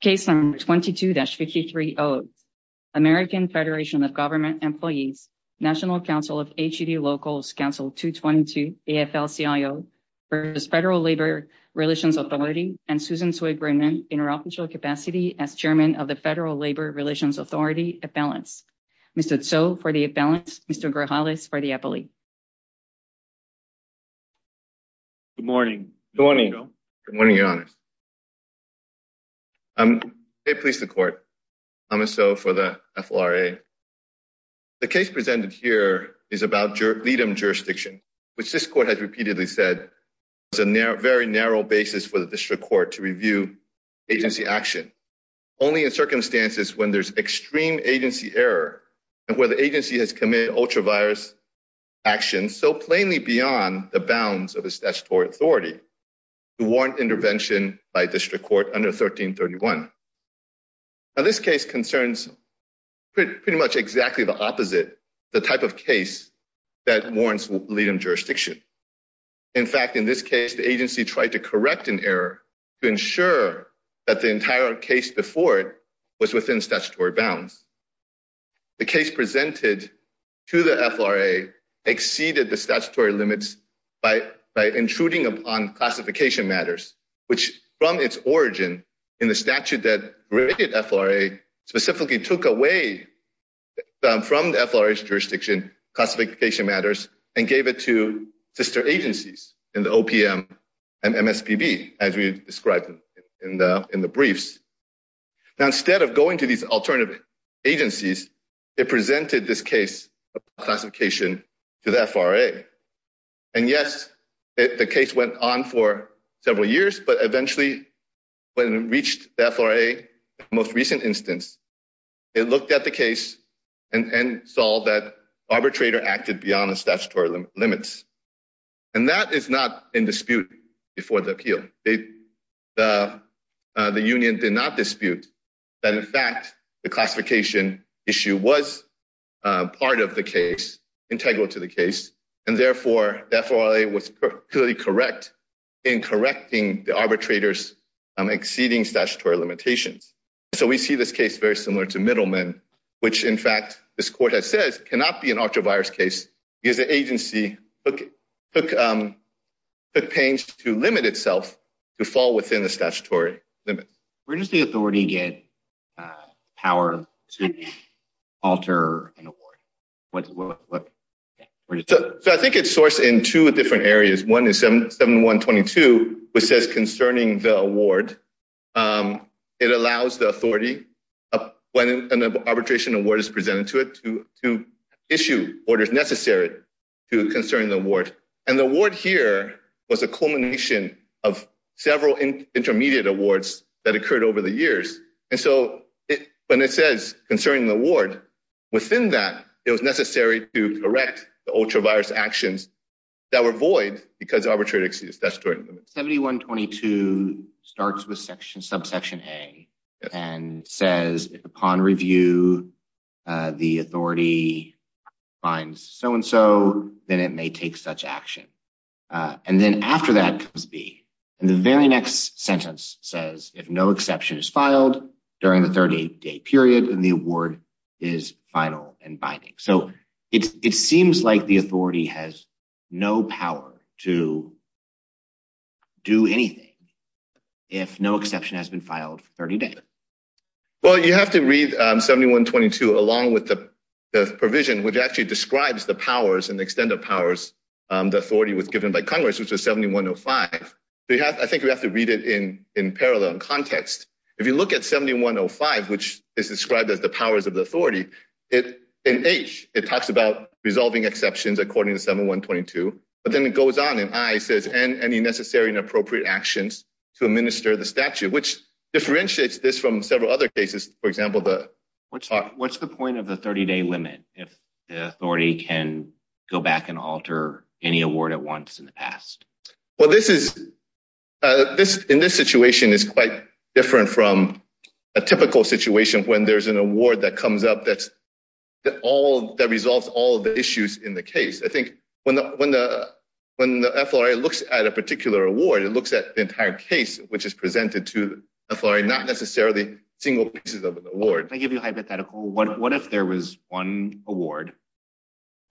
Case number 22-53O, American Federation of Government Employees, National Council of HUD Locals, Council 222, AFL-CIO versus Federal Labor Relations Authority and Susan Tsoi Brennan in her official capacity as Chairman of the Federal Labor Relations Authority Appellants. Mr. Tsoi for the appellants, Mr. Grijales for the appellee. Good morning. Good morning. Good morning, Your Honors. May it please the Court, I'm Mr. Tsoi for the FLRA. The case presented here is about LEADM jurisdiction, which this Court has repeatedly said was a very narrow basis for the District Court to review agency action, only in circumstances when there's extreme agency error and where the agency has committed ultra-virus action so plainly beyond the bounds of the statutory authority to warrant intervention by District Court under 1331. Now, this case concerns pretty much exactly the opposite, the type of case that warrants LEADM jurisdiction. In fact, in this case, the agency tried to correct an error to ensure that the entire case before it within statutory bounds. The case presented to the FLRA exceeded the statutory limits by intruding upon classification matters, which from its origin in the statute that rated FLRA specifically took away from the FLRA's jurisdiction classification matters and gave it to alternative agencies, it presented this case of classification to the FLRA. And yes, the case went on for several years, but eventually when it reached the FLRA's most recent instance, it looked at the case and saw that arbitrator acted beyond the statutory limits. And that is not in dispute before the appeal. The union did not dispute that in fact, the classification issue was part of the case, integral to the case. And therefore, the FLRA was clearly correct in correcting the arbitrator's exceeding statutory limitations. So we see this case very similar to Middleman, which in fact, this court has said cannot be an ultra-virus case because the agency took pains to limit itself to fall within the statutory limits. Where does the authority get power to alter an award? So I think it's sourced in two different areas. One is 7122, which says concerning the award, it allows the authority when an arbitration award is presented to it to issue orders necessary to concerning the award. And the award here was a culmination of several intermediate awards that occurred over the years. And so when it says concerning the award, within that, it was necessary to correct the ultra-virus actions that were void because arbitrary exceeds statutory limits. 7122 starts with subsection A and says upon review, the authority finds so-and-so that it may take such action. And then after that comes B. And the very next sentence says, if no exception is filed during the 30-day period, then the award is final and binding. So it seems like the authority has no power to do anything if no exception has been filed for 30 days. Well, you have to read 7122 along with the provision, which actually describes the powers and the extent of powers the authority was given by Congress, which was 7105. I think we have to read it in parallel and context. If you look at 7105, which is described as the powers of the authority, in H, it talks about resolving exceptions according to 7122. But then it goes on in I, it says, and any necessary and appropriate actions to administer the statute, which differentiates this from several other cases. For example, what's the point of the 30-day limit if the authority can go back and alter any award at once in the past? Well, in this situation, it's quite different from a typical situation when there's an award that comes up that resolves all the issues in the case. I think when the FLRA looks at a particular award, it looks at the entire case, which is presented to the FLRA, not necessarily single pieces of an award. Can I give you a hypothetical? What if there was one award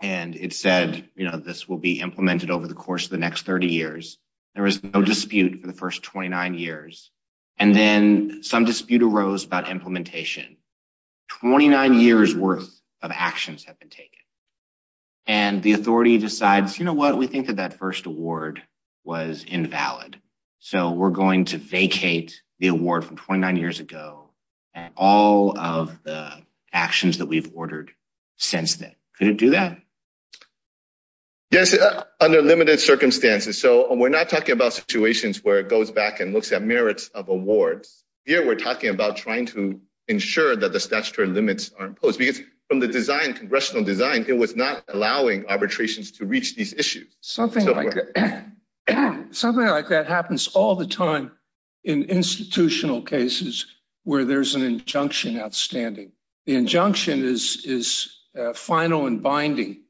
and it said, you know, this will be implemented over the course of the next 30 years, there was no dispute for the first 29 years, and then some dispute arose about implementation. 29 years worth of actions have taken. And the authority decides, you know what, we think that that first award was invalid, so we're going to vacate the award from 29 years ago and all of the actions that we've ordered since then. Could it do that? Yes, under limited circumstances. So we're not talking about situations where it goes back and looks at merits of awards. Here we're talking about trying to impose because from the design, congressional design, it was not allowing arbitrations to reach these issues. Something like that happens all the time in institutional cases where there's an injunction outstanding. The injunction is final and binding,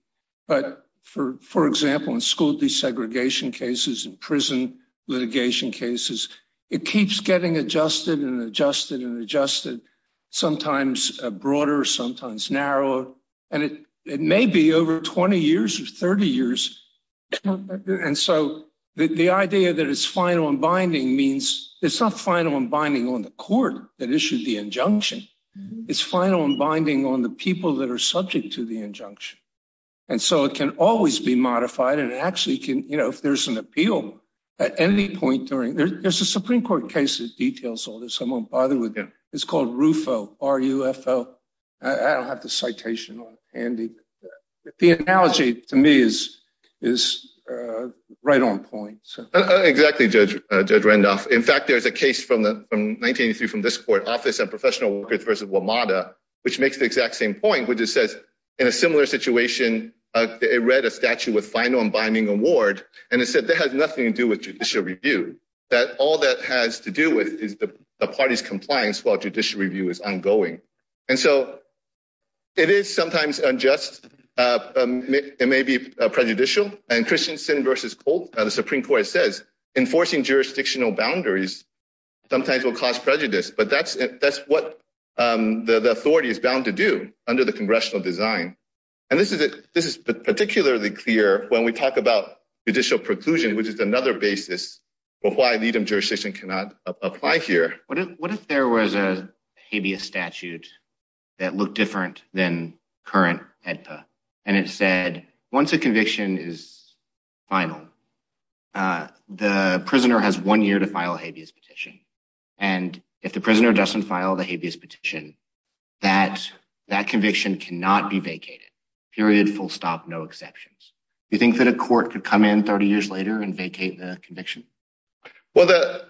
but for example, in school desegregation cases, in prison litigation cases, it keeps getting adjusted and adjusted and adjusted. Sometimes broader, sometimes narrower, and it may be over 20 years or 30 years. And so the idea that it's final and binding means it's not final and binding on the court that issued the injunction. It's final and binding on the people that are subject to the injunction. And so it can always be modified and actually can, you know, if there's an appeal at any point during There's a Supreme Court case that details all this. I won't bother with it. It's called RUFO, R-U-F-O. I don't have the citation on it handy, but the analogy to me is right on point. Exactly, Judge Randolph. In fact, there's a case from 1983 from this court, Office of Professional Workers versus WMATA, which makes the exact same point, which it says in a similar situation, it read a statute with final and binding award, and it said that has that all that has to do with is the party's compliance while judicial review is ongoing. And so it is sometimes unjust. It may be prejudicial. And Christensen versus Colt, the Supreme Court says enforcing jurisdictional boundaries sometimes will cause prejudice, but that's what the authority is bound to do under the congressional design. And this is particularly clear when we talk about judicial preclusion, which is another basis for why Needham jurisdiction cannot apply here. What if there was a habeas statute that looked different than current AEDPA, and it said once a conviction is final, the prisoner has one year to file a habeas petition. And if the prisoner doesn't file the habeas petition, that conviction cannot be vacated. Period. Full stop. No exceptions. You think that a court could come in 30 years later and vacate the conviction? Well,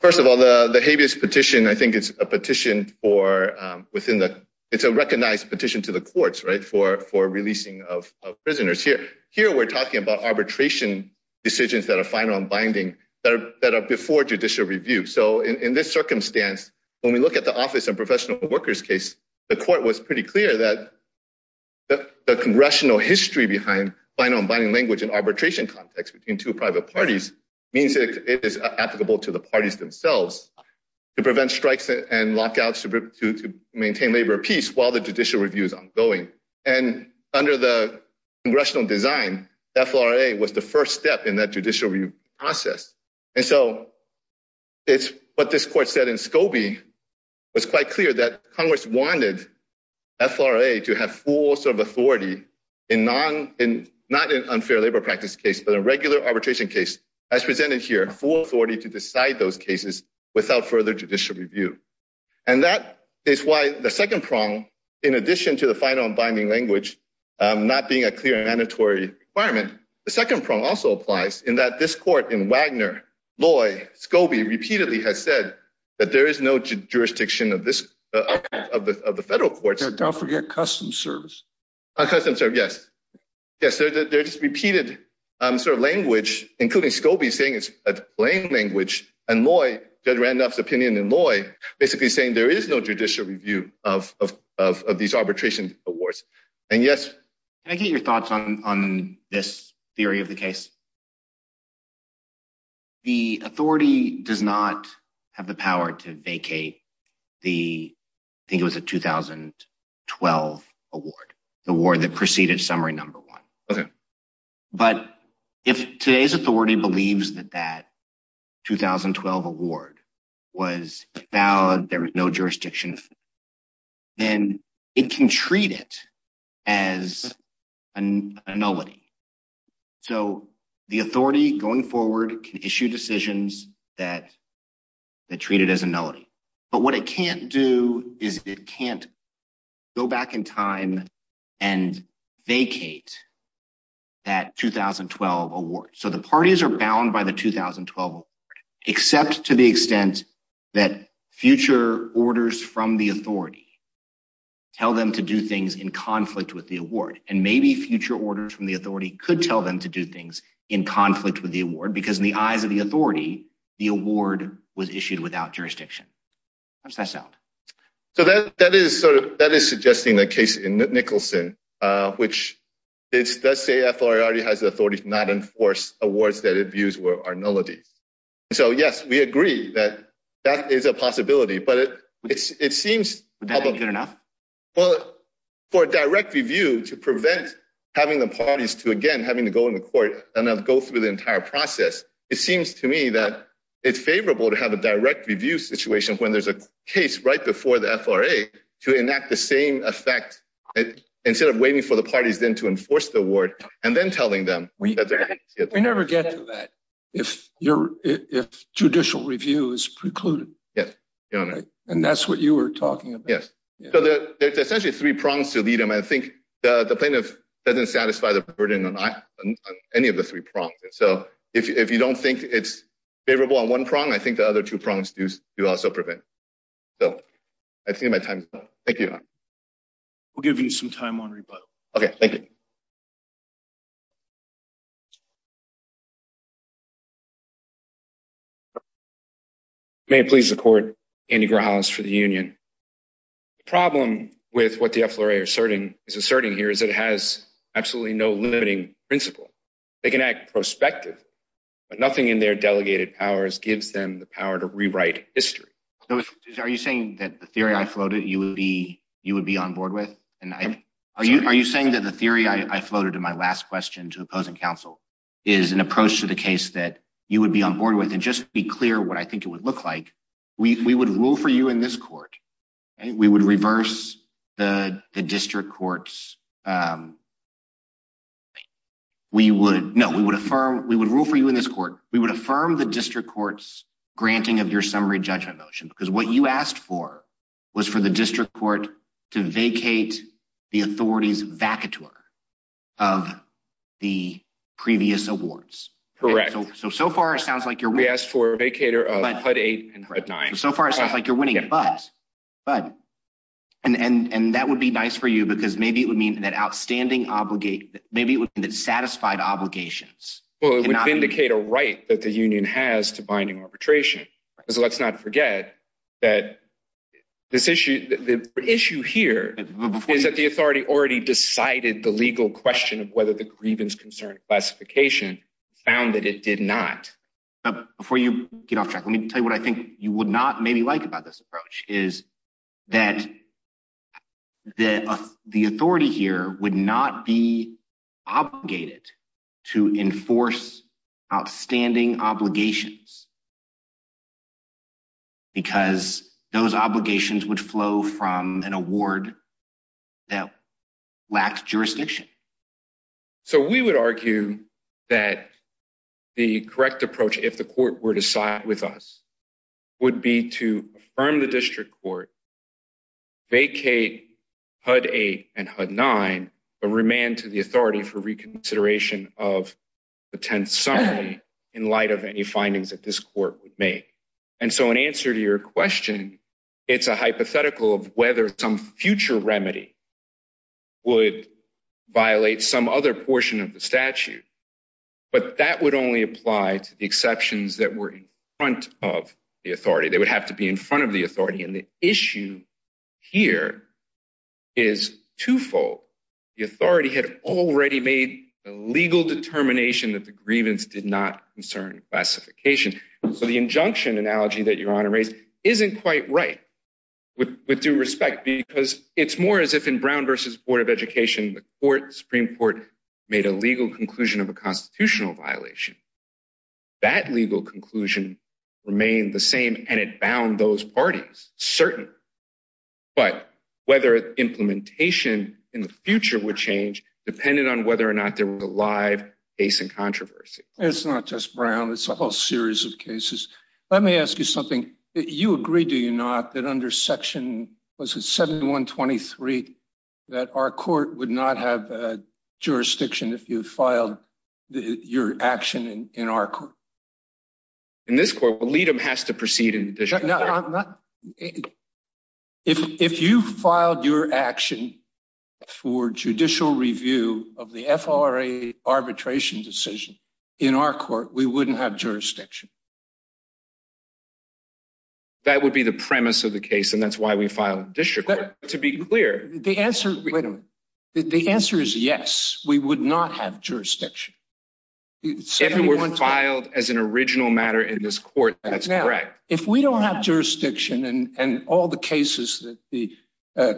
first of all, the habeas petition, I think it's a petition for within the, it's a recognized petition to the courts, right, for releasing of prisoners. Here, we're talking about arbitration decisions that are final and binding that are before judicial review. So in this circumstance, when we look at the office and professional workers case, the court was pretty clear that the congressional history behind final and binding language in private parties means that it is applicable to the parties themselves to prevent strikes and lockouts to maintain labor peace while the judicial review is ongoing. And under the congressional design, FLRA was the first step in that judicial review process. And so it's what this court said in Scobie was quite clear that Congress wanted FLRA to have full sort of authority in non, in not an unfair labor practice case, but a regular arbitration case as presented here, full authority to decide those cases without further judicial review. And that is why the second prong, in addition to the final and binding language, not being a clear mandatory requirement, the second prong also applies in that this court in Wagner, Loy, Scobie repeatedly has said that there is no jurisdiction of this, of the federal courts. Don't forget custom service. Custom service, yes. Yes, there's repeated sort of language, including Scobie saying it's a plain language and Loy, Judge Randolph's opinion in Loy basically saying there is no judicial review of these arbitration awards. And yes. Can I get your thoughts on this theory of the case? The authority does not have the power to vacate the, I think it was a 2012 award. The award that preceded summary number one. Okay. But if today's authority believes that that 2012 award was valid, there was no jurisdiction, then it can treat it as a nullity. So the authority going forward can issue decisions that, that treat it as a nullity. But what it can't do is it can't go back in time and vacate that 2012 award. So the parties are bound by the 2012 award, except to the extent that future orders from the authority tell them to do things in conflict with the award. And maybe future orders from the authority could tell them to do things in conflict with the award because in the eyes of the authority, the award was issued without jurisdiction. How does that sound? So that, that is sort of, that is suggesting the case in Nicholson, which it's, let's say FLRA already has the authority to not enforce awards that it views were are nullities. So yes, we agree that that is a possibility, but it's, it seems good enough. Well, for a direct review to prevent having the parties to again, having to go in the court and it's favorable to have a direct review situation when there's a case right before the FLRA to enact the same effect instead of waiting for the parties then to enforce the award and then telling them. We never get to that if judicial review is precluded. Yes. And that's what you were talking about. Yes. So there's essentially three prongs to lead them. I think the plaintiff doesn't satisfy the burden on any of the three prongs. So if you don't think it's favorable on one prong, I think the other two prongs do, do also prevent. So I think my time is up. Thank you. We'll give you some time on rebuttal. Okay. Thank you. May it please the court, Andy Grajales for the union. The problem with what the FLRA is asserting here is it has absolutely no limiting principle. They can act prospective, but nothing in their delegated powers gives them the power to rewrite history. Are you saying that the theory I floated you would be, you would be on board with? And I, are you, are you saying that the theory I floated in my last question to opposing counsel is an approach to the case that you would be on board with and just be clear what I think it would look like. We would rule for you in this court. We would reverse the district courts. We would, no, we would affirm, we would rule for you in this court. We would affirm the district courts granting of your summary judgment motion because what you asked for was for the district court to vacate the authorities vacateur of the previous awards. Correct. So, so far it sounds like you're, we asked for a vacater of HUD 8 and HUD 9. So far it sounds like you're winning, but, but, and, and, and that would be nice for you because maybe it would mean that outstanding obligate, maybe it would mean that satisfied obligations. Well, it would vindicate a right that the union has to binding arbitration. So let's not forget that this issue, the issue here is that the authority already decided the legal question of whether the grievance concern classification found that it did not. Before you get off track, let me tell you what I think you would not maybe like about this approach is that the authority here would not be obligated to enforce outstanding obligations because those obligations would flow from an award that lacks jurisdiction. So we would argue that the correct approach, if the court were to side with us would be to affirm the district court vacate HUD 8 and HUD 9, but remain to the authority for reconsideration of the 10th summary in light of any findings that this court would make. And so in answer to your question, it's a hypothetical of whether some future remedy would violate some other portion of the statute, but that would only apply to the exceptions that were in front of the authority. They would have to be in front of the authority. And the issue here is twofold. The authority had already made a legal determination that the grievance did not concern classification. So the injunction analogy that your honor raised isn't quite right with due respect because it's as if in Brown v. Board of Education, the Supreme Court made a legal conclusion of a constitutional violation. That legal conclusion remained the same and it bound those parties certainly, but whether implementation in the future would change depended on whether or not there was a live case in controversy. It's not just Brown. It's a whole series of cases. Let me ask you something. You agree, do you not, that under section, was it 7123, that our court would not have a jurisdiction if you filed your action in our court? In this court, lead them has to proceed in addition. No, I'm not. If you filed your action for judicial review of the FRA arbitration decision in our court, we wouldn't have jurisdiction. That would be the premise of the case and that's why we filed district court to be clear. The answer, wait a minute. The answer is yes, we would not have jurisdiction. If it were filed as an original matter in this court, that's correct. If we don't have jurisdiction and all the cases that the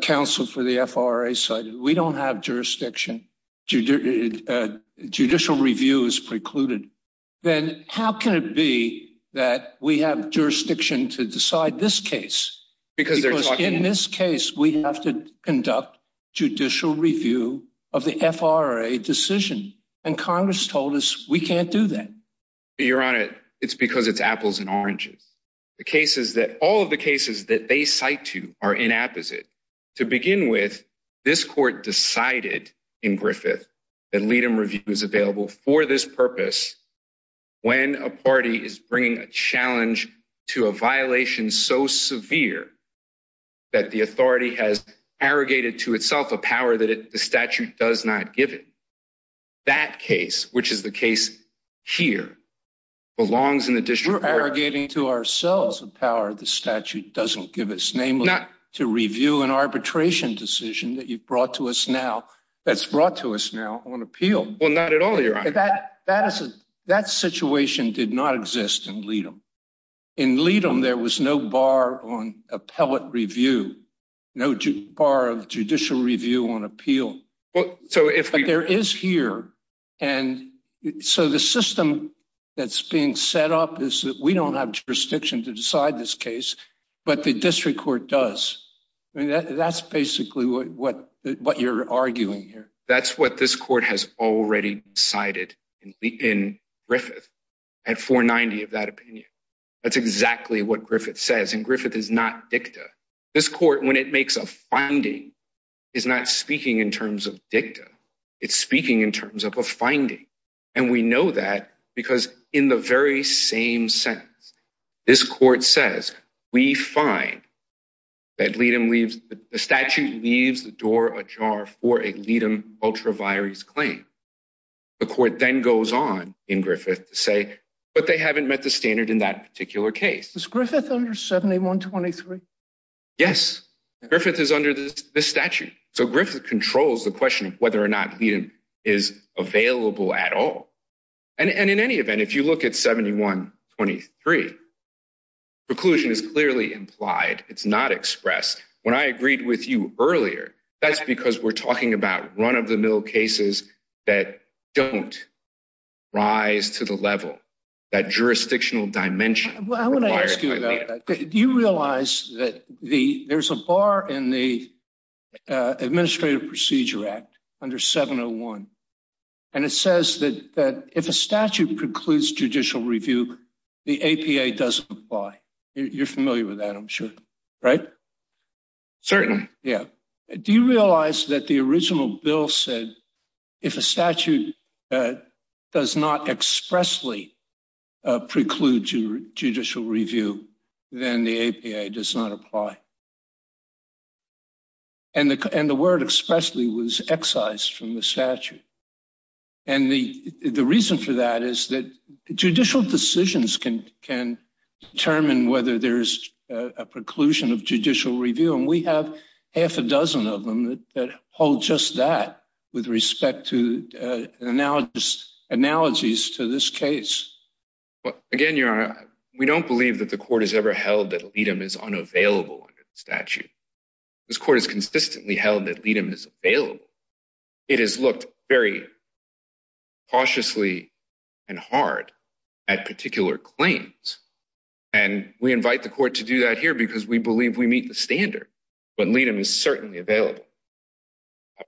counsel for the FRA cited, we don't have jurisdiction. Judicial review is precluded. Then how can it be that we have jurisdiction to decide this case? Because in this case, we have to conduct judicial review of the FRA decision and Congress told us we can't do that. Your Honor, it's because it's apples and oranges. The cases that all of the cases that they cite to are inapposite. To begin with, this court decided in Griffith that lead them review is available for this purpose when a party is bringing a challenge to a violation so severe that the authority has arrogated to itself a power that the statute does not give it. That case, which is the case here, belongs in the district court. To review an arbitration decision that you've brought to us now, that's brought to us now on appeal. Not at all, Your Honor. That situation did not exist in lead them. In lead them, there was no bar on appellate review, no bar of judicial review on appeal. There is here. The system that's being set up is that we don't have jurisdiction to decide this case, but the district court does. That's basically what you're arguing here. That's what this court has already decided in Griffith at 490 of that opinion. That's exactly what Griffith says. And Griffith is not dicta. This court, when it makes a finding, is not speaking in terms of dicta. It's speaking in terms of a finding. And we know that because in the very same sentence, this court says we find that lead him leaves the statute leaves the door ajar for a lead him ultra virus claim. The court then goes on in Griffith to say, but they haven't met the standard in that particular case. Griffith under 71 23. Yes, Griffith is under this statute. So Griffith controls the question of whether or not he is available at all. And in any event, if you look at 71 23, preclusion is clearly implied. It's not expressed when I agreed with you earlier. That's because we're talking about run of the mill cases that don't rise to the level that jurisdictional dimension. Do you realize that the there's a bar in the Administrative Procedure Act under 701, and it says that if a statute precludes judicial review, the A. P. A. Doesn't apply. You're familiar with that. I'm sure. Right. Certain. Yeah. Do you realize that the original bill said if a statute does not expressly preclude judicial review, then the A. P. A. Does not apply. And the and the word expressly was excised from the statute. And the reason for that is that judicial decisions can can determine whether there's a preclusion of judicial review, and we have half a dozen of them that hold just that with respect to analogous analogies to this case. Again, you're we don't believe that the court has ever held that statute. This court is consistently held that lead him is available. It is looked very cautiously and hard at particular claims, and we invite the court to do that here because we believe we meet the standard, but lead him is certainly available. I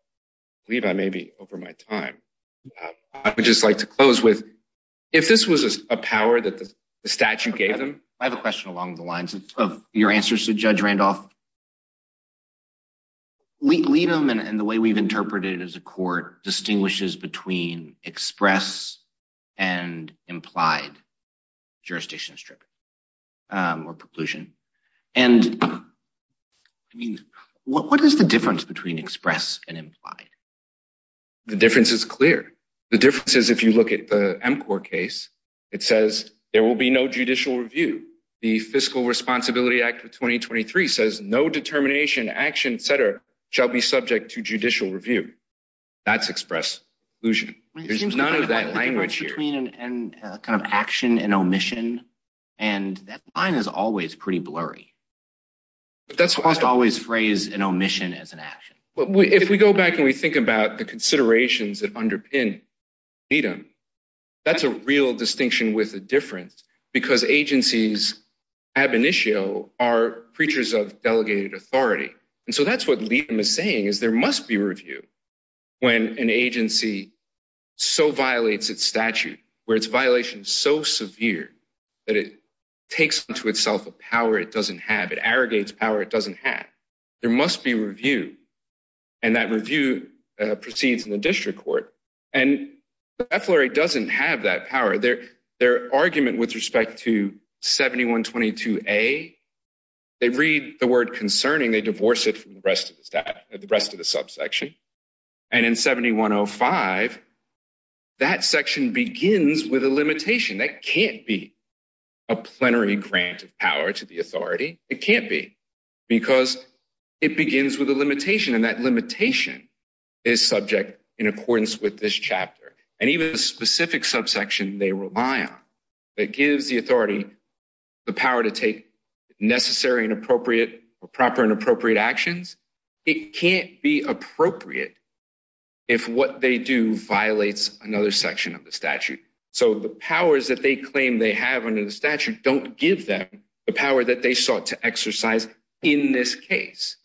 believe I may be over my time. I would just like to close with if this was a power that the statute gave them. I have a question along the lines of your answers to Judge Randolph. We lead them, and the way we've interpreted as a court distinguishes between express and implied jurisdiction strip or preclusion. And I mean, what is the difference between express and implied? The difference is clear. The difference is if you look at the court case, it says there will be no judicial review. The Fiscal Responsibility Act of 2023 says no determination, action, et cetera, shall be subject to judicial review. That's express illusion. There's none of that language here and kind of action and omission, and that line is always pretty blurry. But that's almost always phrase an omission as an action. But if we go back and we think about the considerations that underpin lead them, that's a real distinction with a difference because agencies ab initio are preachers of delegated authority. And so that's what lead them is saying is there must be review when an agency so violates its statute, where its violation is so severe that it takes into itself a power it doesn't have. It arrogates power it doesn't have. There must be review. And that review proceeds in the district court. And the FLRA doesn't have that power. Their argument with respect to 7122A, they read the word concerning, they divorce it from the rest of the subsection. And in 7105, that section begins with a limitation. That can't be a plenary grant of power to the authority. It can't be because it begins with a limitation and that limitation is subject in accordance with this chapter and even the specific subsection they rely on that gives the authority the power to take necessary and appropriate or proper and appropriate actions. It can't be appropriate if what they do violates another section of the statute. So the powers that they claim they have don't give them the power that they sought to exercise in this case.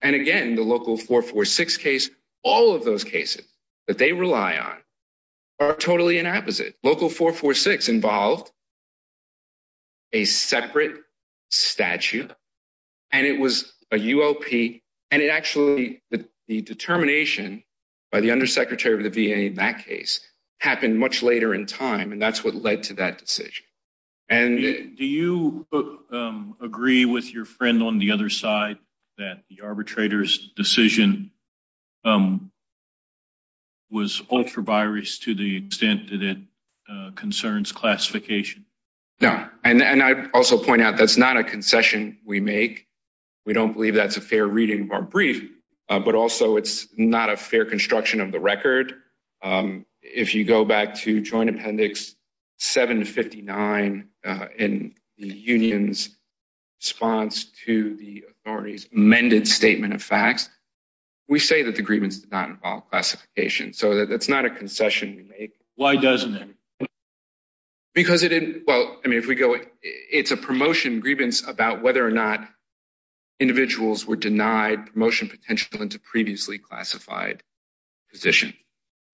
And again, the local 446 case, all of those cases that they rely on are totally an opposite. Local 446 involved a separate statute and it was a UOP and it actually the determination by the undersecretary of the VA in that case happened much later in time and that's what led to that decision. And do you agree with your friend on the other side that the arbitrator's decision was ultra virus to the extent that it concerns classification? No, and I also point out that's not a concession we make. We don't believe that's a fair reading of our brief, but also it's not a in the union's response to the authority's amended statement of facts. We say that the grievance did not involve classification, so that's not a concession we make. Why doesn't it? Because it didn't, well, I mean if we go, it's a promotion grievance about whether or not individuals were denied promotion potential into previously classified position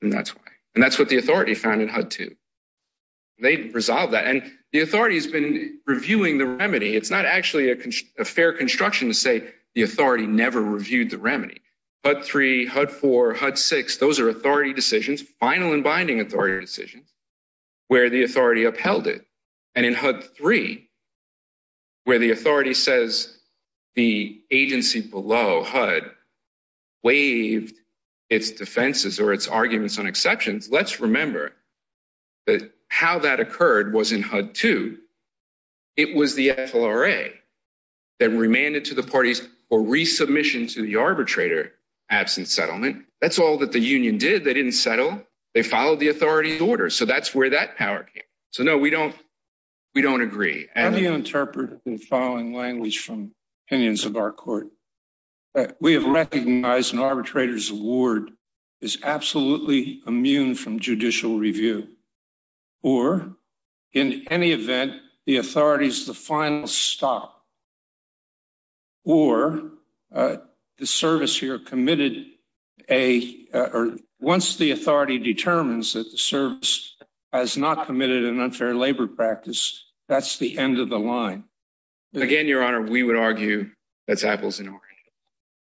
and that's why. And that's what the authority found in HUD too. They resolved that and the authority has been reviewing the remedy. It's not actually a fair construction to say the authority never reviewed the remedy. HUD 3, HUD 4, HUD 6, those are authority decisions, final and binding authority decisions, where the authority upheld it. And in HUD 3, where the authority says the agency below HUD waived its defenses or its arguments on that, how that occurred was in HUD 2. It was the FLRA that remanded to the parties or resubmission to the arbitrator absent settlement. That's all that the union did. They didn't settle. They followed the authority's order. So that's where that power came. So no, we don't, we don't agree. How do you interpret the following language from opinions of our court? We have recognized an arbitrator's award is absolutely immune from judicial review. Or in any event, the authority is the final stop. Or the service here committed a, or once the authority determines that the service has not committed an unfair labor practice, that's the end of the line. Again, Your Honor, we would argue that's apples and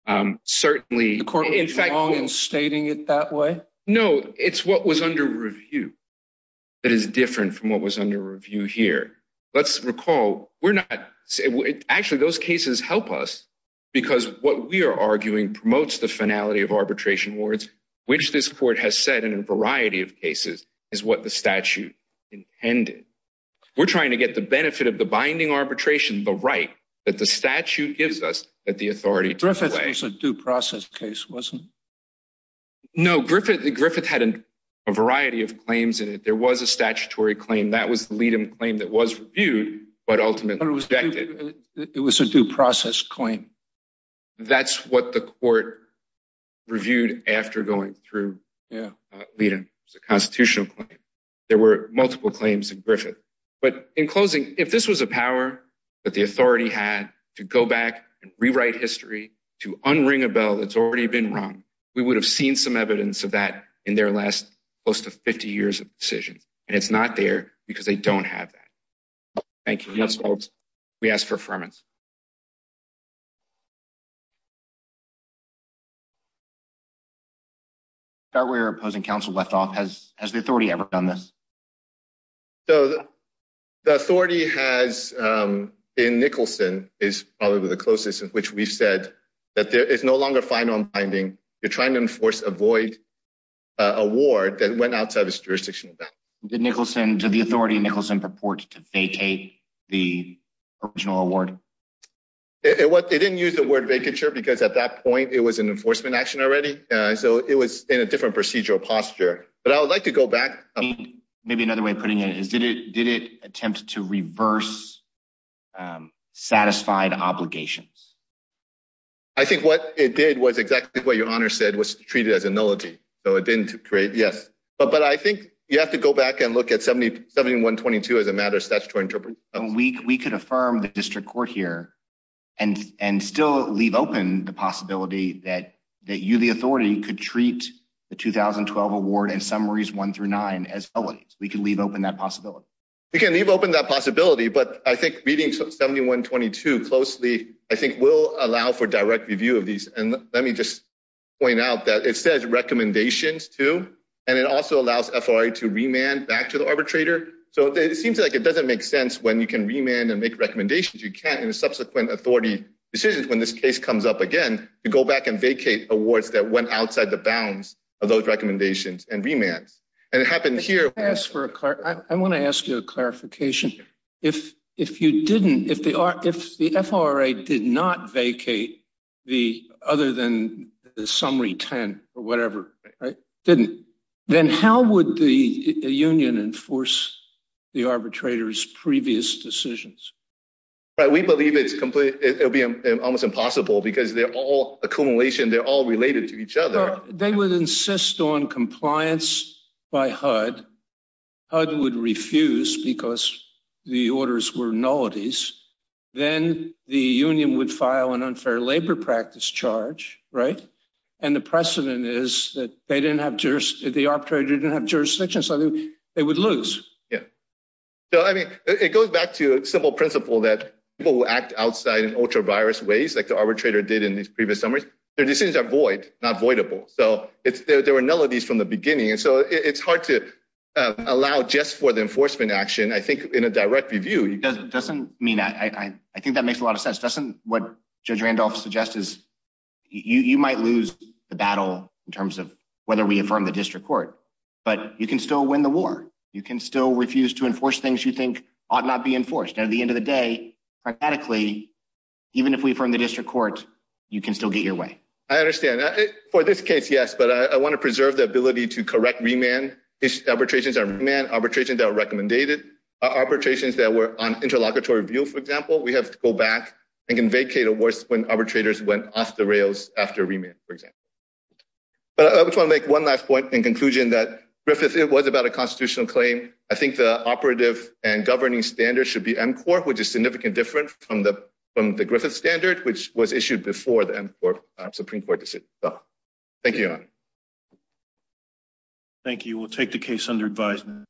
oranges. Certainly, the court was wrong in stating it that way. No, it's what was under review that is different from what was under review here. Let's recall, we're not, actually those cases help us because what we are arguing promotes the finality of arbitration awards, which this court has said in a variety of cases is what the statute intended. We're trying to get the benefit of the binding arbitration, the right that the statute gives us, that the authority to the way. Griffith was a due process case, wasn't it? No, Griffith had a variety of claims in it. There was a statutory claim. That was the Liedem claim that was reviewed, but ultimately rejected. It was a due process claim. That's what the court reviewed after going through Liedem. It was a constitutional claim. There were multiple claims in Griffith, but in closing, if this was a power that the authority had to go back and rewrite history, to unring a bell that's already been rung, we would have seen some evidence of that in their last close to 50 years of decisions, and it's not there because they don't have that. Thank you. We ask for affirmance. Scott, we are opposing counsel left off. Has the authority ever done this? So, the authority has in Nicholson is probably the closest in which we've said that there is no longer final binding. You're trying to enforce a void award that went outside this jurisdiction. Did Nicholson, did the authority in Nicholson purport to vacate the original award? They didn't use the word vacature because at that point it was an enforcement action already, so it was in a different procedural posture, but I would like to go back. Maybe another way of putting it is, did it attempt to reverse satisfied obligations? I think what it did was exactly what your Honor said, was treat it as a nullity, but I think you have to go back and look at 7122 as a matter of statutory interpretation. We could affirm the district court here and still leave open the possibility that you, the authority, could treat the 2012 award and summaries one through nine as nullities. We could leave open that possibility. We can leave open that possibility, but I think reading 7122 closely I think will allow for direct review of these, and let me just point out that it says recommendations too, and it also allows FRA to remand back to the arbitrator, so it seems like it doesn't make sense when you can remand and make recommendations. You can't, in subsequent authority decisions, when this case comes up again, to go back and vacate awards that went outside the bounds of those recommendations and remands, and it happened here. I want to ask you a clarification. If you didn't, if the FRA did not vacate the other than summary 10 or whatever, didn't, then how would the union enforce the arbitrator's previous decisions? Right, we believe it's completely, it'll be almost impossible because they're all accumulation, they're all related to each other. They would insist on compliance by HUD. HUD would refuse because the orders were nullities. Then the union would file an unfair labor practice charge, right, and the precedent is that they didn't have jurisdiction, the arbitrator didn't have jurisdiction, so they would lose. Yeah, so I mean it goes back to a simple principle that people who act outside in ultra-virus ways, like the arbitrator did in these previous summaries, their decisions are void, not voidable, so there were nullities from the beginning, and so it's hard to allow just for the enforcement action, I think in a direct review. It doesn't mean, I think makes a lot of sense, doesn't what Judge Randolph suggests, is you might lose the battle in terms of whether we affirm the district court, but you can still win the war. You can still refuse to enforce things you think ought not be enforced, and at the end of the day, frantically, even if we affirm the district court, you can still get your way. I understand, for this case, yes, but I want to preserve the ability to correct remand arbitrations, remand arbitrations that are and can vacate awards when arbitrators went off the rails after remand, for example, but I just want to make one last point in conclusion that Griffith, it was about a constitutional claim. I think the operative and governing standard should be M-Corp, which is significantly different from the Griffith standard, which was issued before the M-Corp Supreme Court decision. Thank you. Thank you. We'll take the case under advisement.